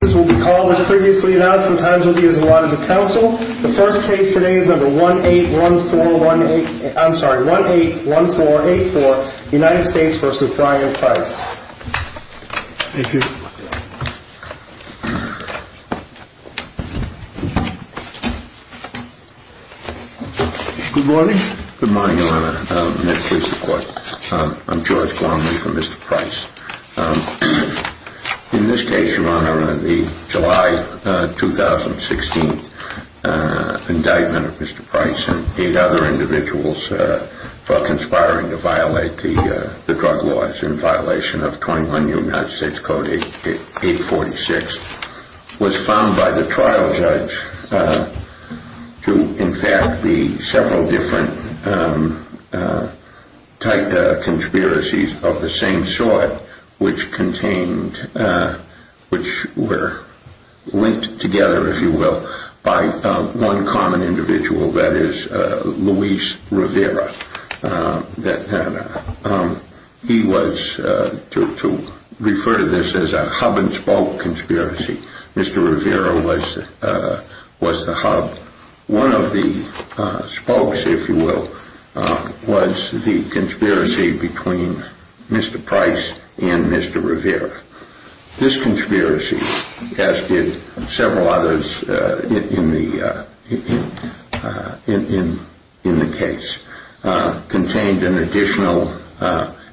This will be called, as previously announced, the times will be as allotted to counsel. The first case today is number 181484, United States v. Brian Price. Thank you. Good morning. Good morning, Your Honor. May it please the Court. I'm George Gorman for Mr. Price. In this case, Your Honor, the July 2016 indictment of Mr. Price and eight other individuals for conspiring to violate the drug laws in violation of 21 United States Code 846 was found by the trial judge to, in fact, be several different type of conspiracies of the same sort. Which contained, which were linked together, if you will, by one common individual, that is, Luis Rivera. He was, to refer to this as a hub and spoke conspiracy, Mr. Rivera was the hub. One of the spokes, if you will, was the conspiracy between Mr. Price and Mr. Rivera. This conspiracy, as did several others in the case, contained an additional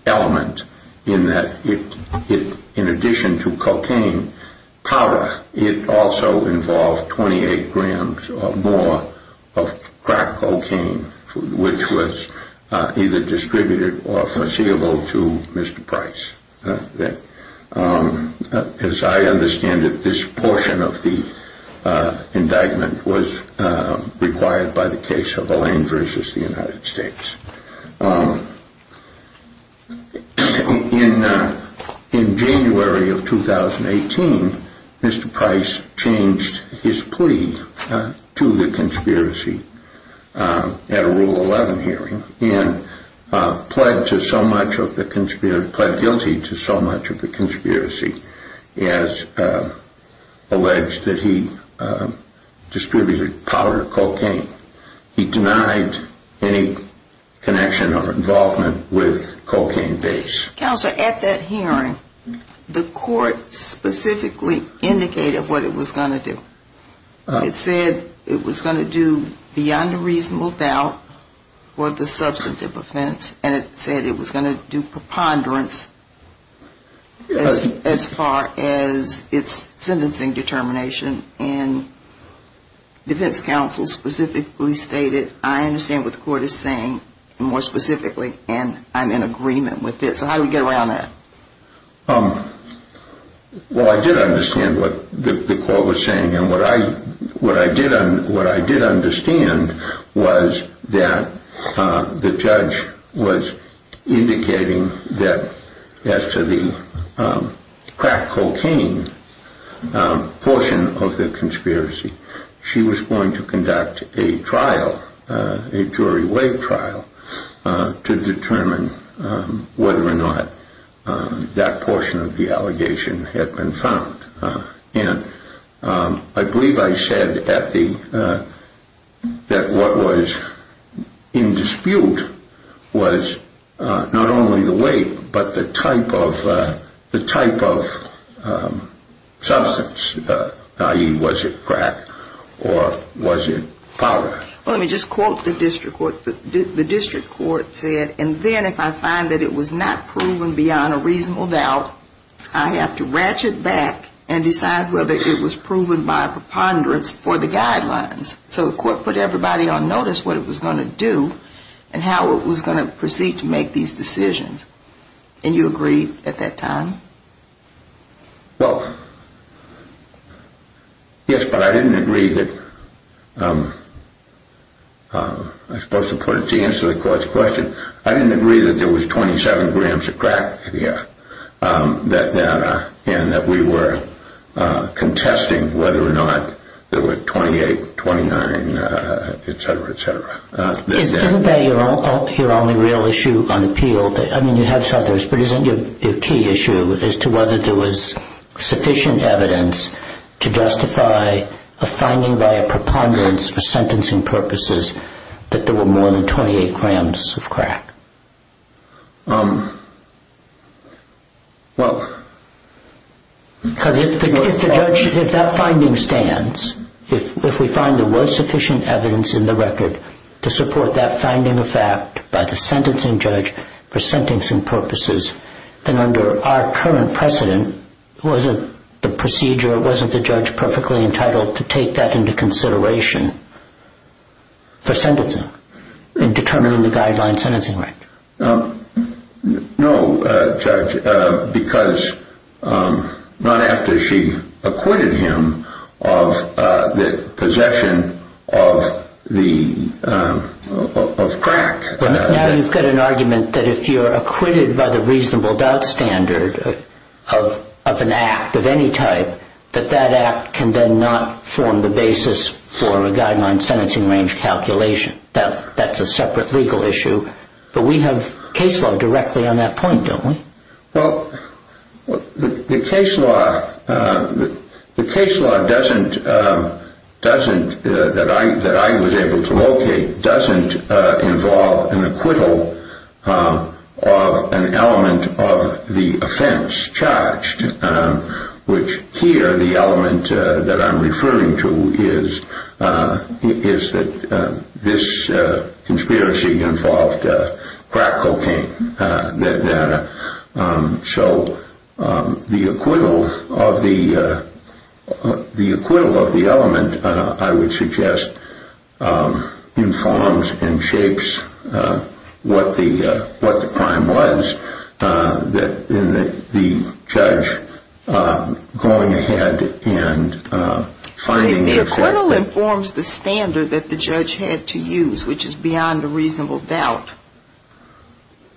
element in that it, in addition to cocaine powder, it also involved 28 grams or more of crack cocaine, which was either distributed or foreseeable to Mr. Price. As I understand it, this portion of the indictment was required by the case of Alain versus the United States. In January of 2018, Mr. Price changed his plea to the conspiracy at a Rule 11 hearing and pled guilty to so much of the conspiracy as alleged that he distributed powder cocaine. He denied any connection or involvement with cocaine base. Counsel, at that hearing, the court specifically indicated what it was going to do. It said it was going to do beyond a reasonable doubt for the substantive offense and it said it was going to do preponderance as far as its sentencing determination. Defense counsel specifically stated, I understand what the court is saying, more specifically, and I'm in agreement with it. So how do we get around that? Well, I did understand what the court was saying and what I did understand was that the judge was indicating that as to the crack cocaine portion of the conspiracy, she was going to conduct a jury weight trial to determine whether or not that portion of the allegation had been found. And I believe I said that what was in dispute was not only the weight but the type of substance, i.e., was it crack or was it powder? Let me just quote the district court. The district court said, and then if I find that it was not proven beyond a reasonable doubt, I have to ratchet back and decide whether it was proven by preponderance for the guidelines. So the court put everybody on notice what it was going to do and how it was going to proceed to make these decisions. And you agreed at that time? Well, yes, but I didn't agree that, I suppose to put it to the answer to the court's question, I didn't agree that there was 27 grams of crack in the air and that we were contesting whether or not there were 28, 29, etc., etc. Isn't that your only real issue on appeal? I mean, you have others, but isn't your key issue as to whether there was sufficient evidence to justify a finding by a preponderance for sentencing purposes that there were more than 28 grams of crack? Well, because if the judge, if that finding stands, if we find there was sufficient evidence in the record to support that finding of fact by the sentencing judge for sentencing purposes, then under our current precedent, wasn't the procedure, wasn't the judge perfectly entitled to take that into consideration for sentencing in determining the guideline sentencing right? No, Judge, because not after she acquitted him of the possession of the, of crack. Now you've got an argument that if you're acquitted by the reasonable doubt standard of an act of any type, that that act can then not form the basis for a guideline sentencing range calculation. That's a separate legal issue, but we have case law directly on that point, don't we? Well, the case law doesn't, that I was able to locate, doesn't involve an acquittal of an element of the offense charged, which here the element that I'm referring to is that this conspiracy involved crack cocaine. So the acquittal of the, the acquittal of the element, I would suggest, informs and shapes what the, what the crime was that the judge going ahead and finding... The acquittal informs the standard that the judge had to use, which is beyond a reasonable doubt.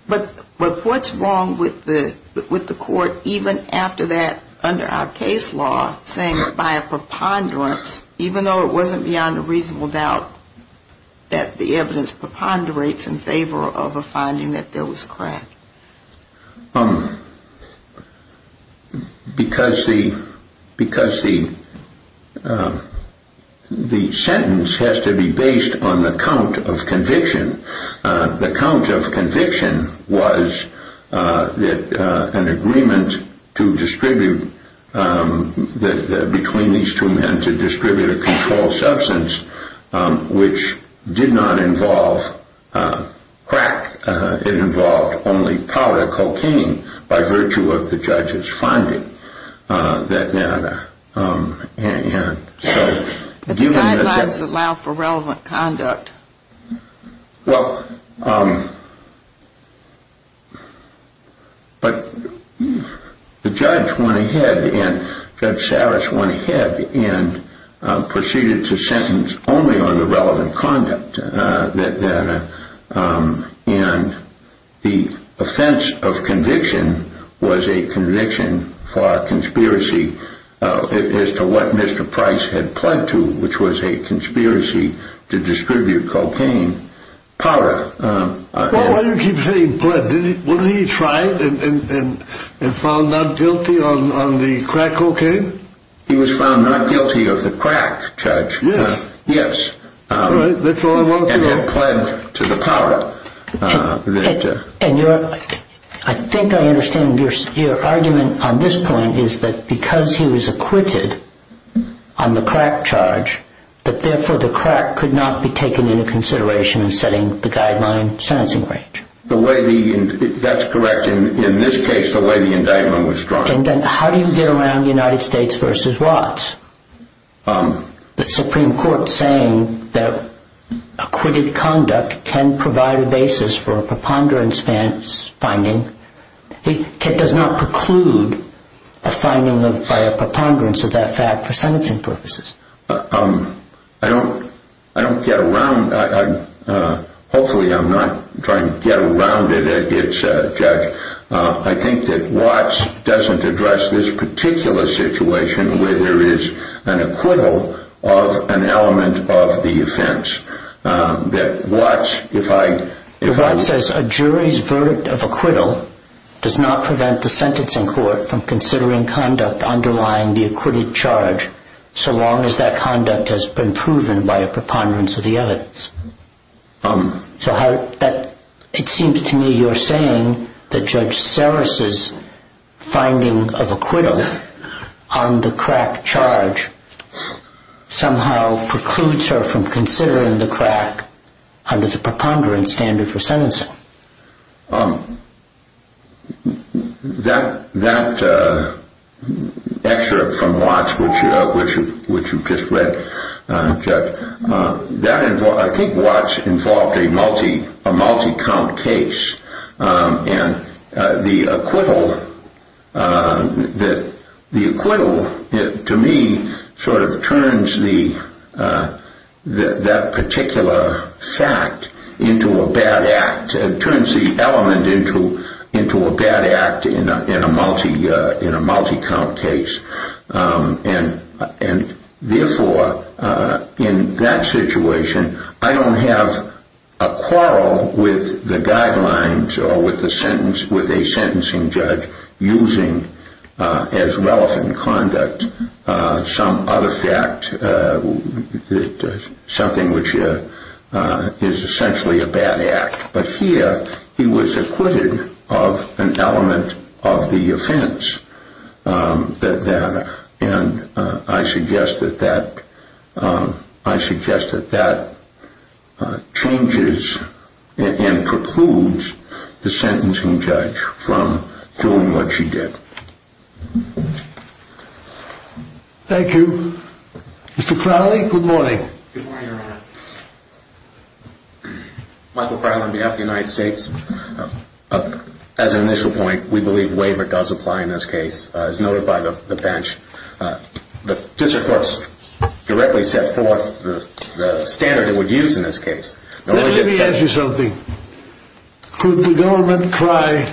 But, but what's wrong with the, with the court even after that, under our case law, saying that by a preponderance, even though it wasn't beyond a reasonable doubt, that the evidence preponderates in favor of a finding that there was crack? Because the, because the, the sentence has to be based on the count of conviction. The count of conviction was an agreement to distribute, between these two men, to distribute a controlled substance, which did not involve crack. It involved only powder, cocaine, by virtue of the judge's finding. And so... But the guidelines allow for relevant conduct. Well, but the judge went ahead and, Judge Sarris went ahead and proceeded to sentence only on the relevant conduct. And the offense of conviction was a conviction for a conspiracy as to what Mr. Price had pledged to, which was a conspiracy to distribute cocaine powder. Well, why do you keep saying pledged? Wasn't he tried and found not guilty on the crack cocaine? He was found not guilty of the crack, Judge. Yes. Yes. That's all I wanted to know. And he had pledged to the powder. And your, I think I understand your argument on this point is that because he was acquitted on the crack charge, that therefore the crack could not be taken into consideration in setting the guideline sentencing range. The way the, that's correct. In this case, the way the indictment was drawn. And then how do you get around the United States versus Watts? The Supreme Court saying that acquitted conduct can provide a basis for a preponderance finding. It does not preclude a finding by a preponderance of that fact for sentencing purposes. I don't, I don't get around, hopefully I'm not trying to get around it, Judge. I think that Watts doesn't address this particular situation where there is an acquittal of an element of the offense. That Watts, if I, if I... Watts says a jury's verdict of acquittal does not prevent the sentencing court from considering conduct underlying the acquitted charge so long as that conduct has been proven by a preponderance of the evidence. So how, that, it seems to me you're saying that Judge Sarris' finding of acquittal on the crack charge somehow precludes her from considering the crack under the preponderance standard for sentencing. That, that excerpt from Watts, which you just read, Judge, that, I think Watts involved a multi, a multi-count case. And the acquittal, the acquittal to me sort of turns the, that particular fact into a bad act, turns the element into a bad act in a multi, in a multi-count case. And, and therefore in that situation I don't have a quarrel with the guidelines or with the sentence, with a sentencing judge using as relevant conduct some other fact, something which is essentially a bad act. But here he was acquitted of an element of the offense that, that, and I suggest that that, I suggest that that changes and precludes the sentencing judge from doing what she did. Thank you. Mr. Crowley, good morning. Good morning, Your Honor. Michael Crowley on behalf of the United States. As an initial point, we believe waiver does apply in this case. As noted by the bench, the district courts directly set forth the standard it would use in this case. Let me ask you something. Could the government cry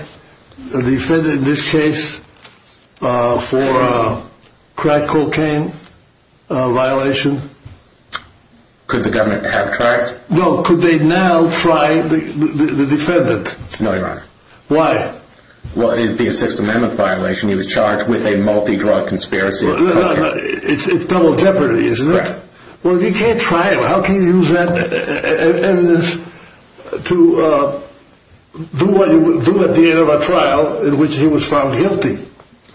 the defendant in this case for a crack cocaine violation? Could the government have tried? No, could they now try the defendant? No, Your Honor. Why? Well, it would be a Sixth Amendment violation. He was charged with a multi-drug conspiracy. It's double jeopardy, isn't it? Correct. Well, if you can't try him, how can you use that evidence to do what you would do at the end of a trial in which he was found guilty?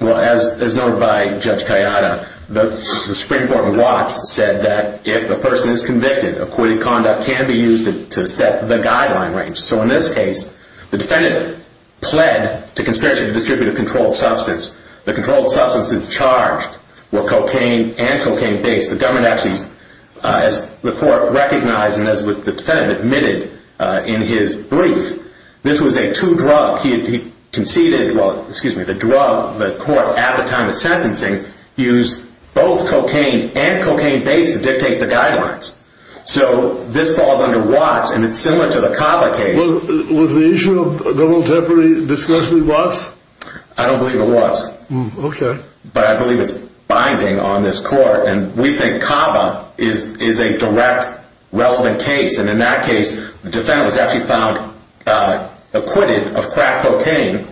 Well, as noted by Judge Kayada, the Supreme Court in Watts said that if a person is convicted, acquitted conduct can be used to set the guideline range. So in this case, the defendant pled to conspiracy to distribute a controlled substance. The controlled substance is charged with cocaine and cocaine-based. The government actually, as the court recognized and as the defendant admitted in his brief, this was a two-drug. He conceded, well, excuse me, the drug, the court at the time of sentencing used both cocaine and cocaine-based to dictate the guidelines. So this falls under Watts, and it's similar to the Cava case. Was the issue of double jeopardy discussed in Watts? I don't believe it was. Okay. But I believe it's binding on this court, and we think Cava is a direct relevant case. And in that case, the defendant was actually found acquitted of crack cocaine,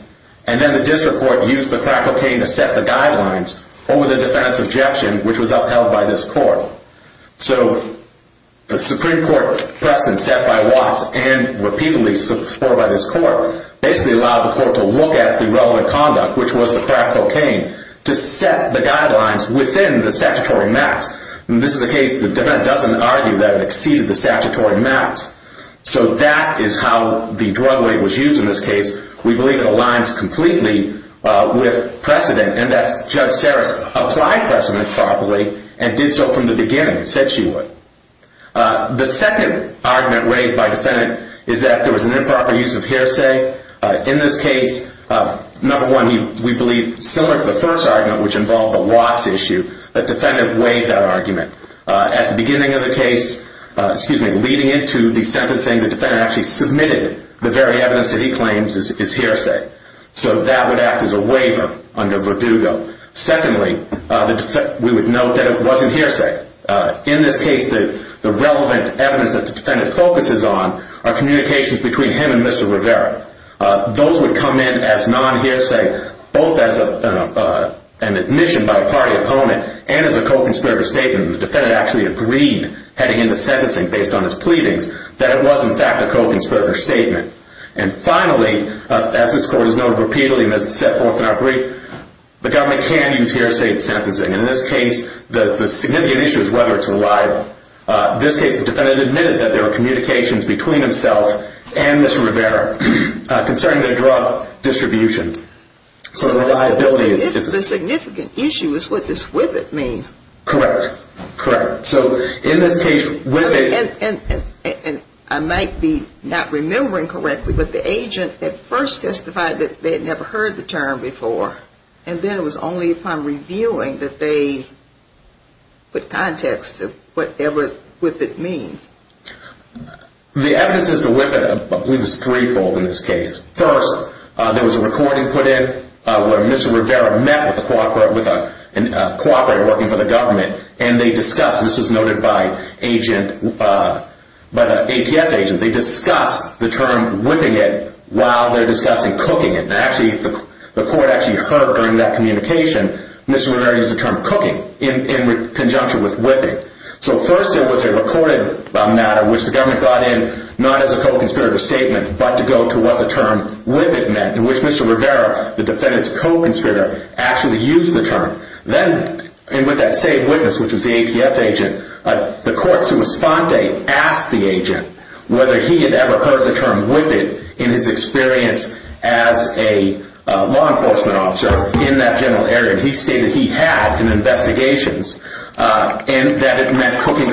and then the district court used the crack cocaine to set the guidelines over the defendant's objection, which was upheld by this court. So the Supreme Court precedent set by Watts and repeatedly supported by this court basically allowed the court to look at the relevant conduct, which was the crack cocaine, to set the guidelines within the statutory mask. And this is a case the defendant doesn't argue that it exceeded the statutory mask. So that is how the drug weight was used in this case. We believe it aligns completely with precedent, and that's Judge Saris applied precedent properly and did so from the beginning, said she would. The second argument raised by the defendant is that there was an improper use of hearsay. In this case, number one, we believe similar to the first argument, which involved the Watts issue, the defendant weighed that argument. At the beginning of the case, excuse me, leading into the sentencing, the defendant actually submitted the very evidence that he claims is hearsay. So that would act as a waiver under Verdugo. Secondly, we would note that it wasn't hearsay. In this case, the relevant evidence that the defendant focuses on are communications between him and Mr. Rivera. Those would come in as non-hearsay, both as an admission by a party opponent and as a co-conspirator statement. The defendant actually agreed, heading into sentencing based on his pleadings, that it was in fact a co-conspirator statement. And finally, as this court has noted repeatedly and has set forth in our brief, the government can use hearsay in sentencing. In this case, the significant issue is whether it's reliable. In this case, the defendant admitted that there were communications between himself and Mr. Rivera concerning the drug distribution. So the reliability is... The significant issue is what does with it mean? Correct. Correct. So in this case, with it... And I might be not remembering correctly, but the agent at first testified that they had never heard the term before. And then it was only upon reviewing that they put context to whatever with it means. The evidence as to with it, I believe, is threefold in this case. First, there was a recording put in where Mr. Rivera met with a co-operator working for the government. And they discussed, this was noted by agent, by the ATF agent, they discussed the term with it while they're discussing cooking it. And actually, the court actually heard during that communication Mr. Rivera used the term cooking in conjunction with whipping. So first, there was a recorded matter which the government got in, not as a co-conspirator statement, but to go to what the term whip it meant. In which Mr. Rivera, the defendant's co-conspirator, actually used the term. Then, and with that same witness, which was the ATF agent, the court, sua sponte, asked the agent whether he had ever heard the term whip it in his experience as a law enforcement officer in that general area. And he stated he had in investigations. And that it meant cooking cocaine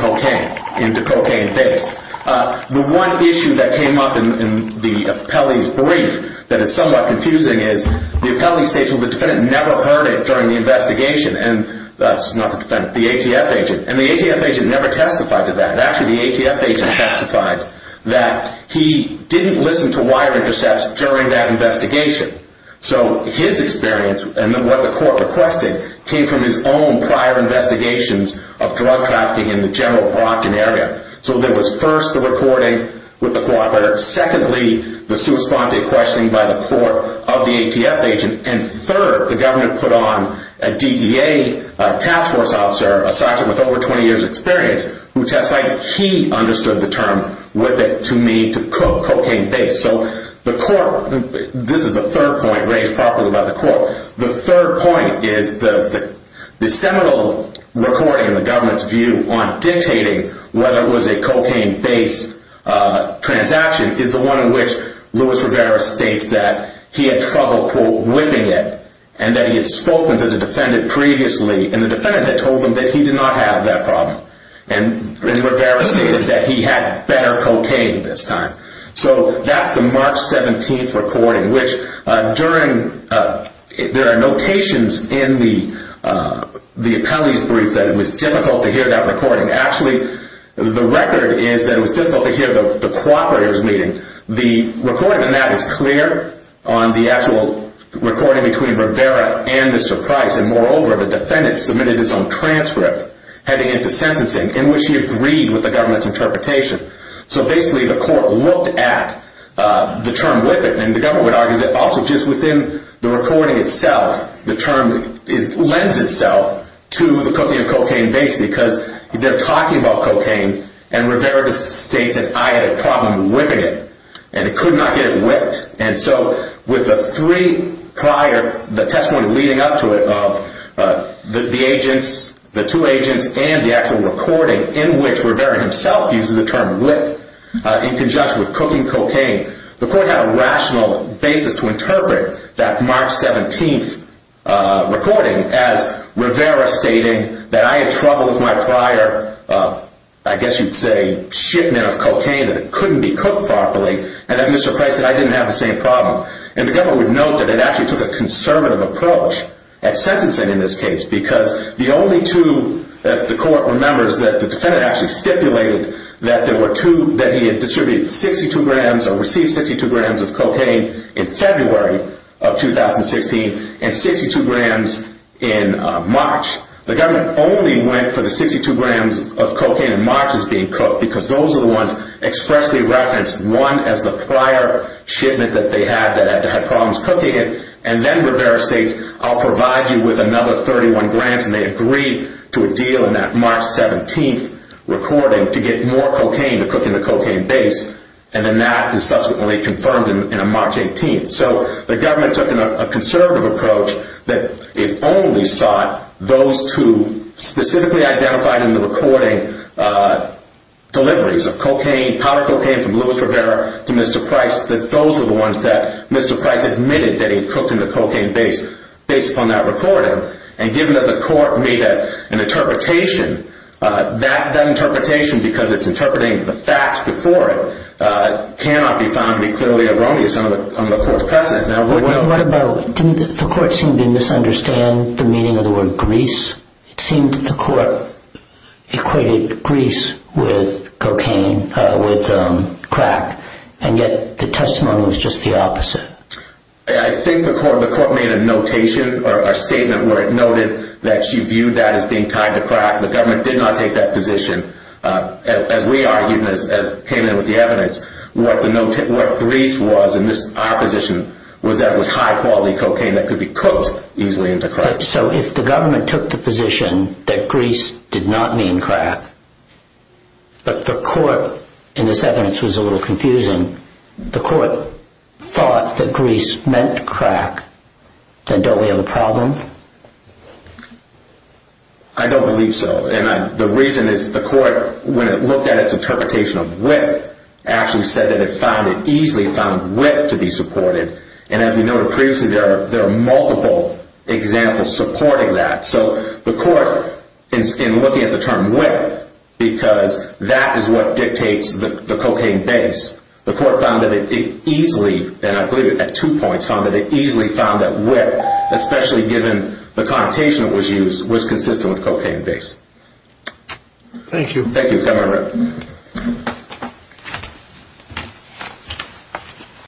into cocaine base. The one issue that came up in the appellee's brief that is somewhat confusing is the appellee states, well, the defendant never heard it during the investigation. And that's not the defendant, the ATF agent. And the ATF agent never testified to that. Actually, the ATF agent testified that he didn't listen to wire intercepts during that investigation. So his experience, and what the court requested, came from his own prior investigations of drug trafficking in the general Brockton area. So there was first the recording with the co-operator. Secondly, the sua sponte questioning by the court of the ATF agent. And third, the government put on a DEA task force officer, a sergeant with over 20 years experience, who testified he understood the term whip it to mean to cook cocaine base. So the court, this is the third point raised properly by the court. The third point is the seminal recording in the government's view on dictating whether it was a cocaine base transaction is the one in which Louis Rivera states that he had trouble, quote, whipping it. And that he had spoken to the defendant previously. And the defendant had told him that he did not have that problem. And Rivera stated that he had better cocaine this time. So that's the March 17th recording, which during, there are notations in the appellee's brief that it was difficult to hear that recording. Actually, the record is that it was difficult to hear the co-operator's meeting. The recording on that is clear on the actual recording between Rivera and Mr. Price. And moreover, the defendant submitted his own transcript heading into sentencing in which he agreed with the government's interpretation. So basically, the court looked at the term whip it. And the government argued that also just within the recording itself, the term lends itself to the cooking of cocaine base because they're talking about cocaine. And Rivera states that I had a problem whipping it. And so with the three prior, the testimony leading up to it of the agents, the two agents, and the actual recording in which Rivera himself uses the term whip in conjunction with cooking cocaine, the court had a rational basis to interpret that March 17th recording as Rivera stating that I had trouble with my prior, I guess you'd say, shipment of cocaine that couldn't be cooked properly. And that Mr. Price said I didn't have the same problem. And the government would note that it actually took a conservative approach at sentencing in this case because the only two that the court remembers that the defendant actually stipulated that there were two, that he had distributed 62 grams or received 62 grams of cocaine in February of 2016 and 62 grams in March. The government only went for the 62 grams of cocaine in March as being cooked because those are the ones expressly referenced, one as the prior shipment that they had that had problems cooking it. And then Rivera states, I'll provide you with another 31 grams. And they agreed to a deal in that March 17th recording to get more cocaine to cook in the cocaine base. And then that is subsequently confirmed in a March 18th. So the government took a conservative approach that it only sought those two specifically identified in the recording deliveries of cocaine, powder cocaine from Louis Rivera to Mr. Price, that those are the ones that Mr. Price admitted that he had cooked in the cocaine base based upon that recording. And given that the court made an interpretation, that interpretation, because it's interpreting the facts before it, cannot be found to be clearly erroneous under the court's precedent. What about, didn't the court seem to misunderstand the meaning of the word grease? It seemed that the court equated grease with cocaine, with crack, and yet the testimony was just the opposite. I think the court made a notation or a statement where it noted that she viewed that as being tied to crack. The government did not take that position. As we argued, as came in with the evidence, what grease was in this opposition was that it was high quality cocaine that could be cooked easily into crack. So if the government took the position that grease did not mean crack, but the court, and this evidence was a little confusing, the court thought that grease meant crack, then don't we have a problem? I don't believe so. And the reason is the court, when it looked at its interpretation of whip, actually said that it found, it easily found whip to be supported. And as we noted previously, there are multiple examples supporting that. So the court, in looking at the term whip, because that is what dictates the cocaine base, the court found that it easily, and I believe it at two points, found that it easily found that whip, especially given the connotation that was used, was consistent with cocaine base. Thank you. Thank you.